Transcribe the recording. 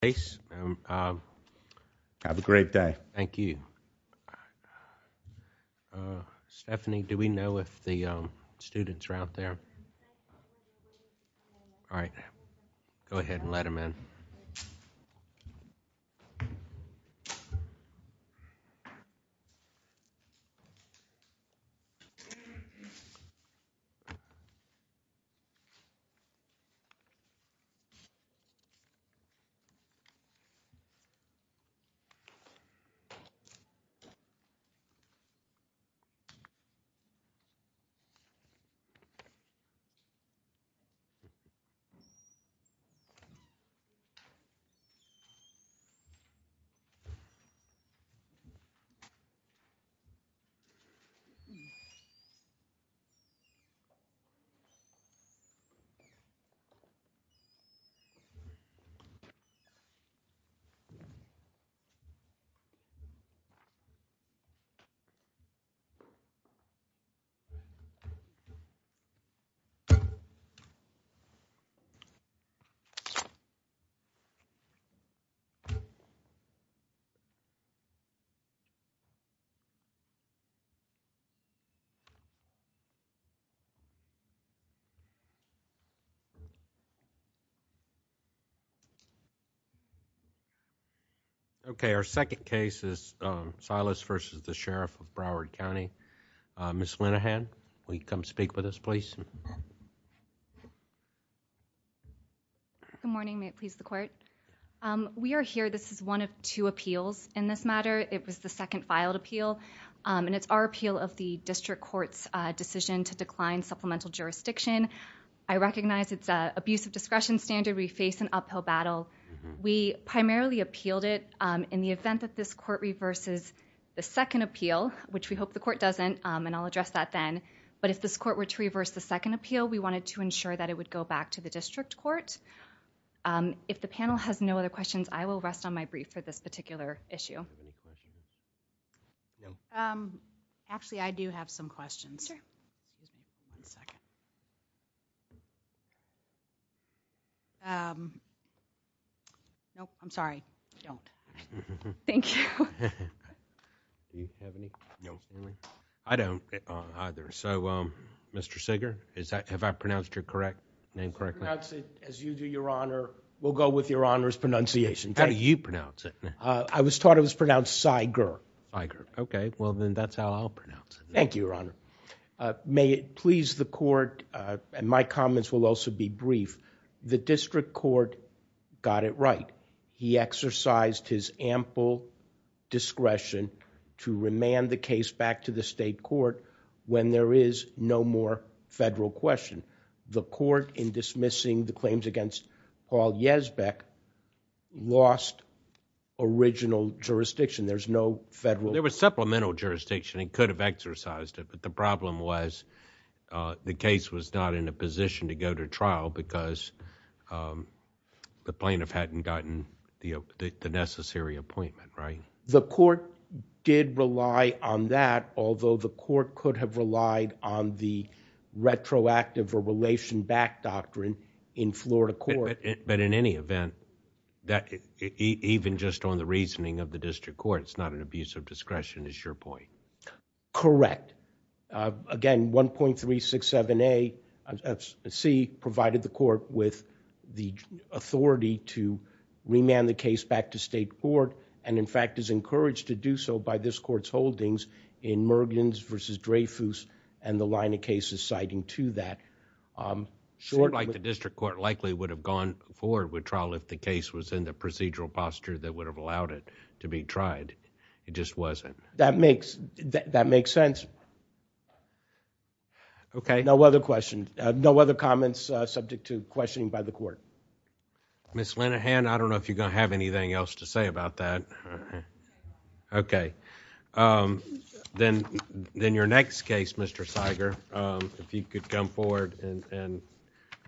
Have a great day. Thank you. Stephanie, do we know if the students are out there? All right. Go ahead and let him in. All right. All right. Okay. Our second case is Silas v. Sheriff of Broward County. Ms. Linehan, will you come speak with us, please? Good morning. May it please the court? We are here. This is one of two appeals in this matter. It was the second filed appeal, and it's our appeal of the district court's decision to decline supplemental jurisdiction. I recognize it's an abuse of discretion standard. We face an uphill battle. We primarily appealed it in the event that this court reverses the second appeal, which we hope the court doesn't. And I'll address that then. But if this court were to reverse the second appeal, we wanted to ensure that it would go back to the district court. If the panel has no other questions, I will rest on my brief for this particular issue. No. Actually, I do have some questions. No, I'm sorry. Don't. Thank you. Do you have any? No, I don't either. So, Mr. Seeger, is that have I pronounced your correct name correctly? As you do, Your Honor, we'll go with Your Honor's pronunciation. How do you pronounce it? I was taught it was pronounced Seiger. OK, well, then that's how I'll pronounce it. Thank you, Your Honor. May it please the court and my comments will also be brief. The district court got it right. He exercised his ample discretion to remand the case back to the state court when there is no more federal question. The court in dismissing the claims against Paul Yesbeck lost original jurisdiction. There's no federal. There was supplemental jurisdiction. It could have exercised it. But the problem was the case was not in a position to go to trial because the plaintiff hadn't gotten the necessary appointment. Right. The court did rely on that, although the court could have relied on the retroactive or relation back doctrine in Florida court. But in any event, that even just on the reasoning of the district court, it's not an abuse of discretion. Correct. Again, 1.367 C provided the court with the authority to remand the case back to state court. And in fact, is encouraged to do so by this court's holdings in Mergen's versus Dreyfus and the line of cases citing to that. Like the district court likely would have gone forward with trial if the case was in the procedural posture that would have allowed it to be tried. It just wasn't. That makes that makes sense. OK. No other questions. No other comments subject to questioning by the court. Miss Lenahan, I don't know if you're going to have anything else to say about that. OK, then then your next case, Mr. Seiger, if you could come forward and.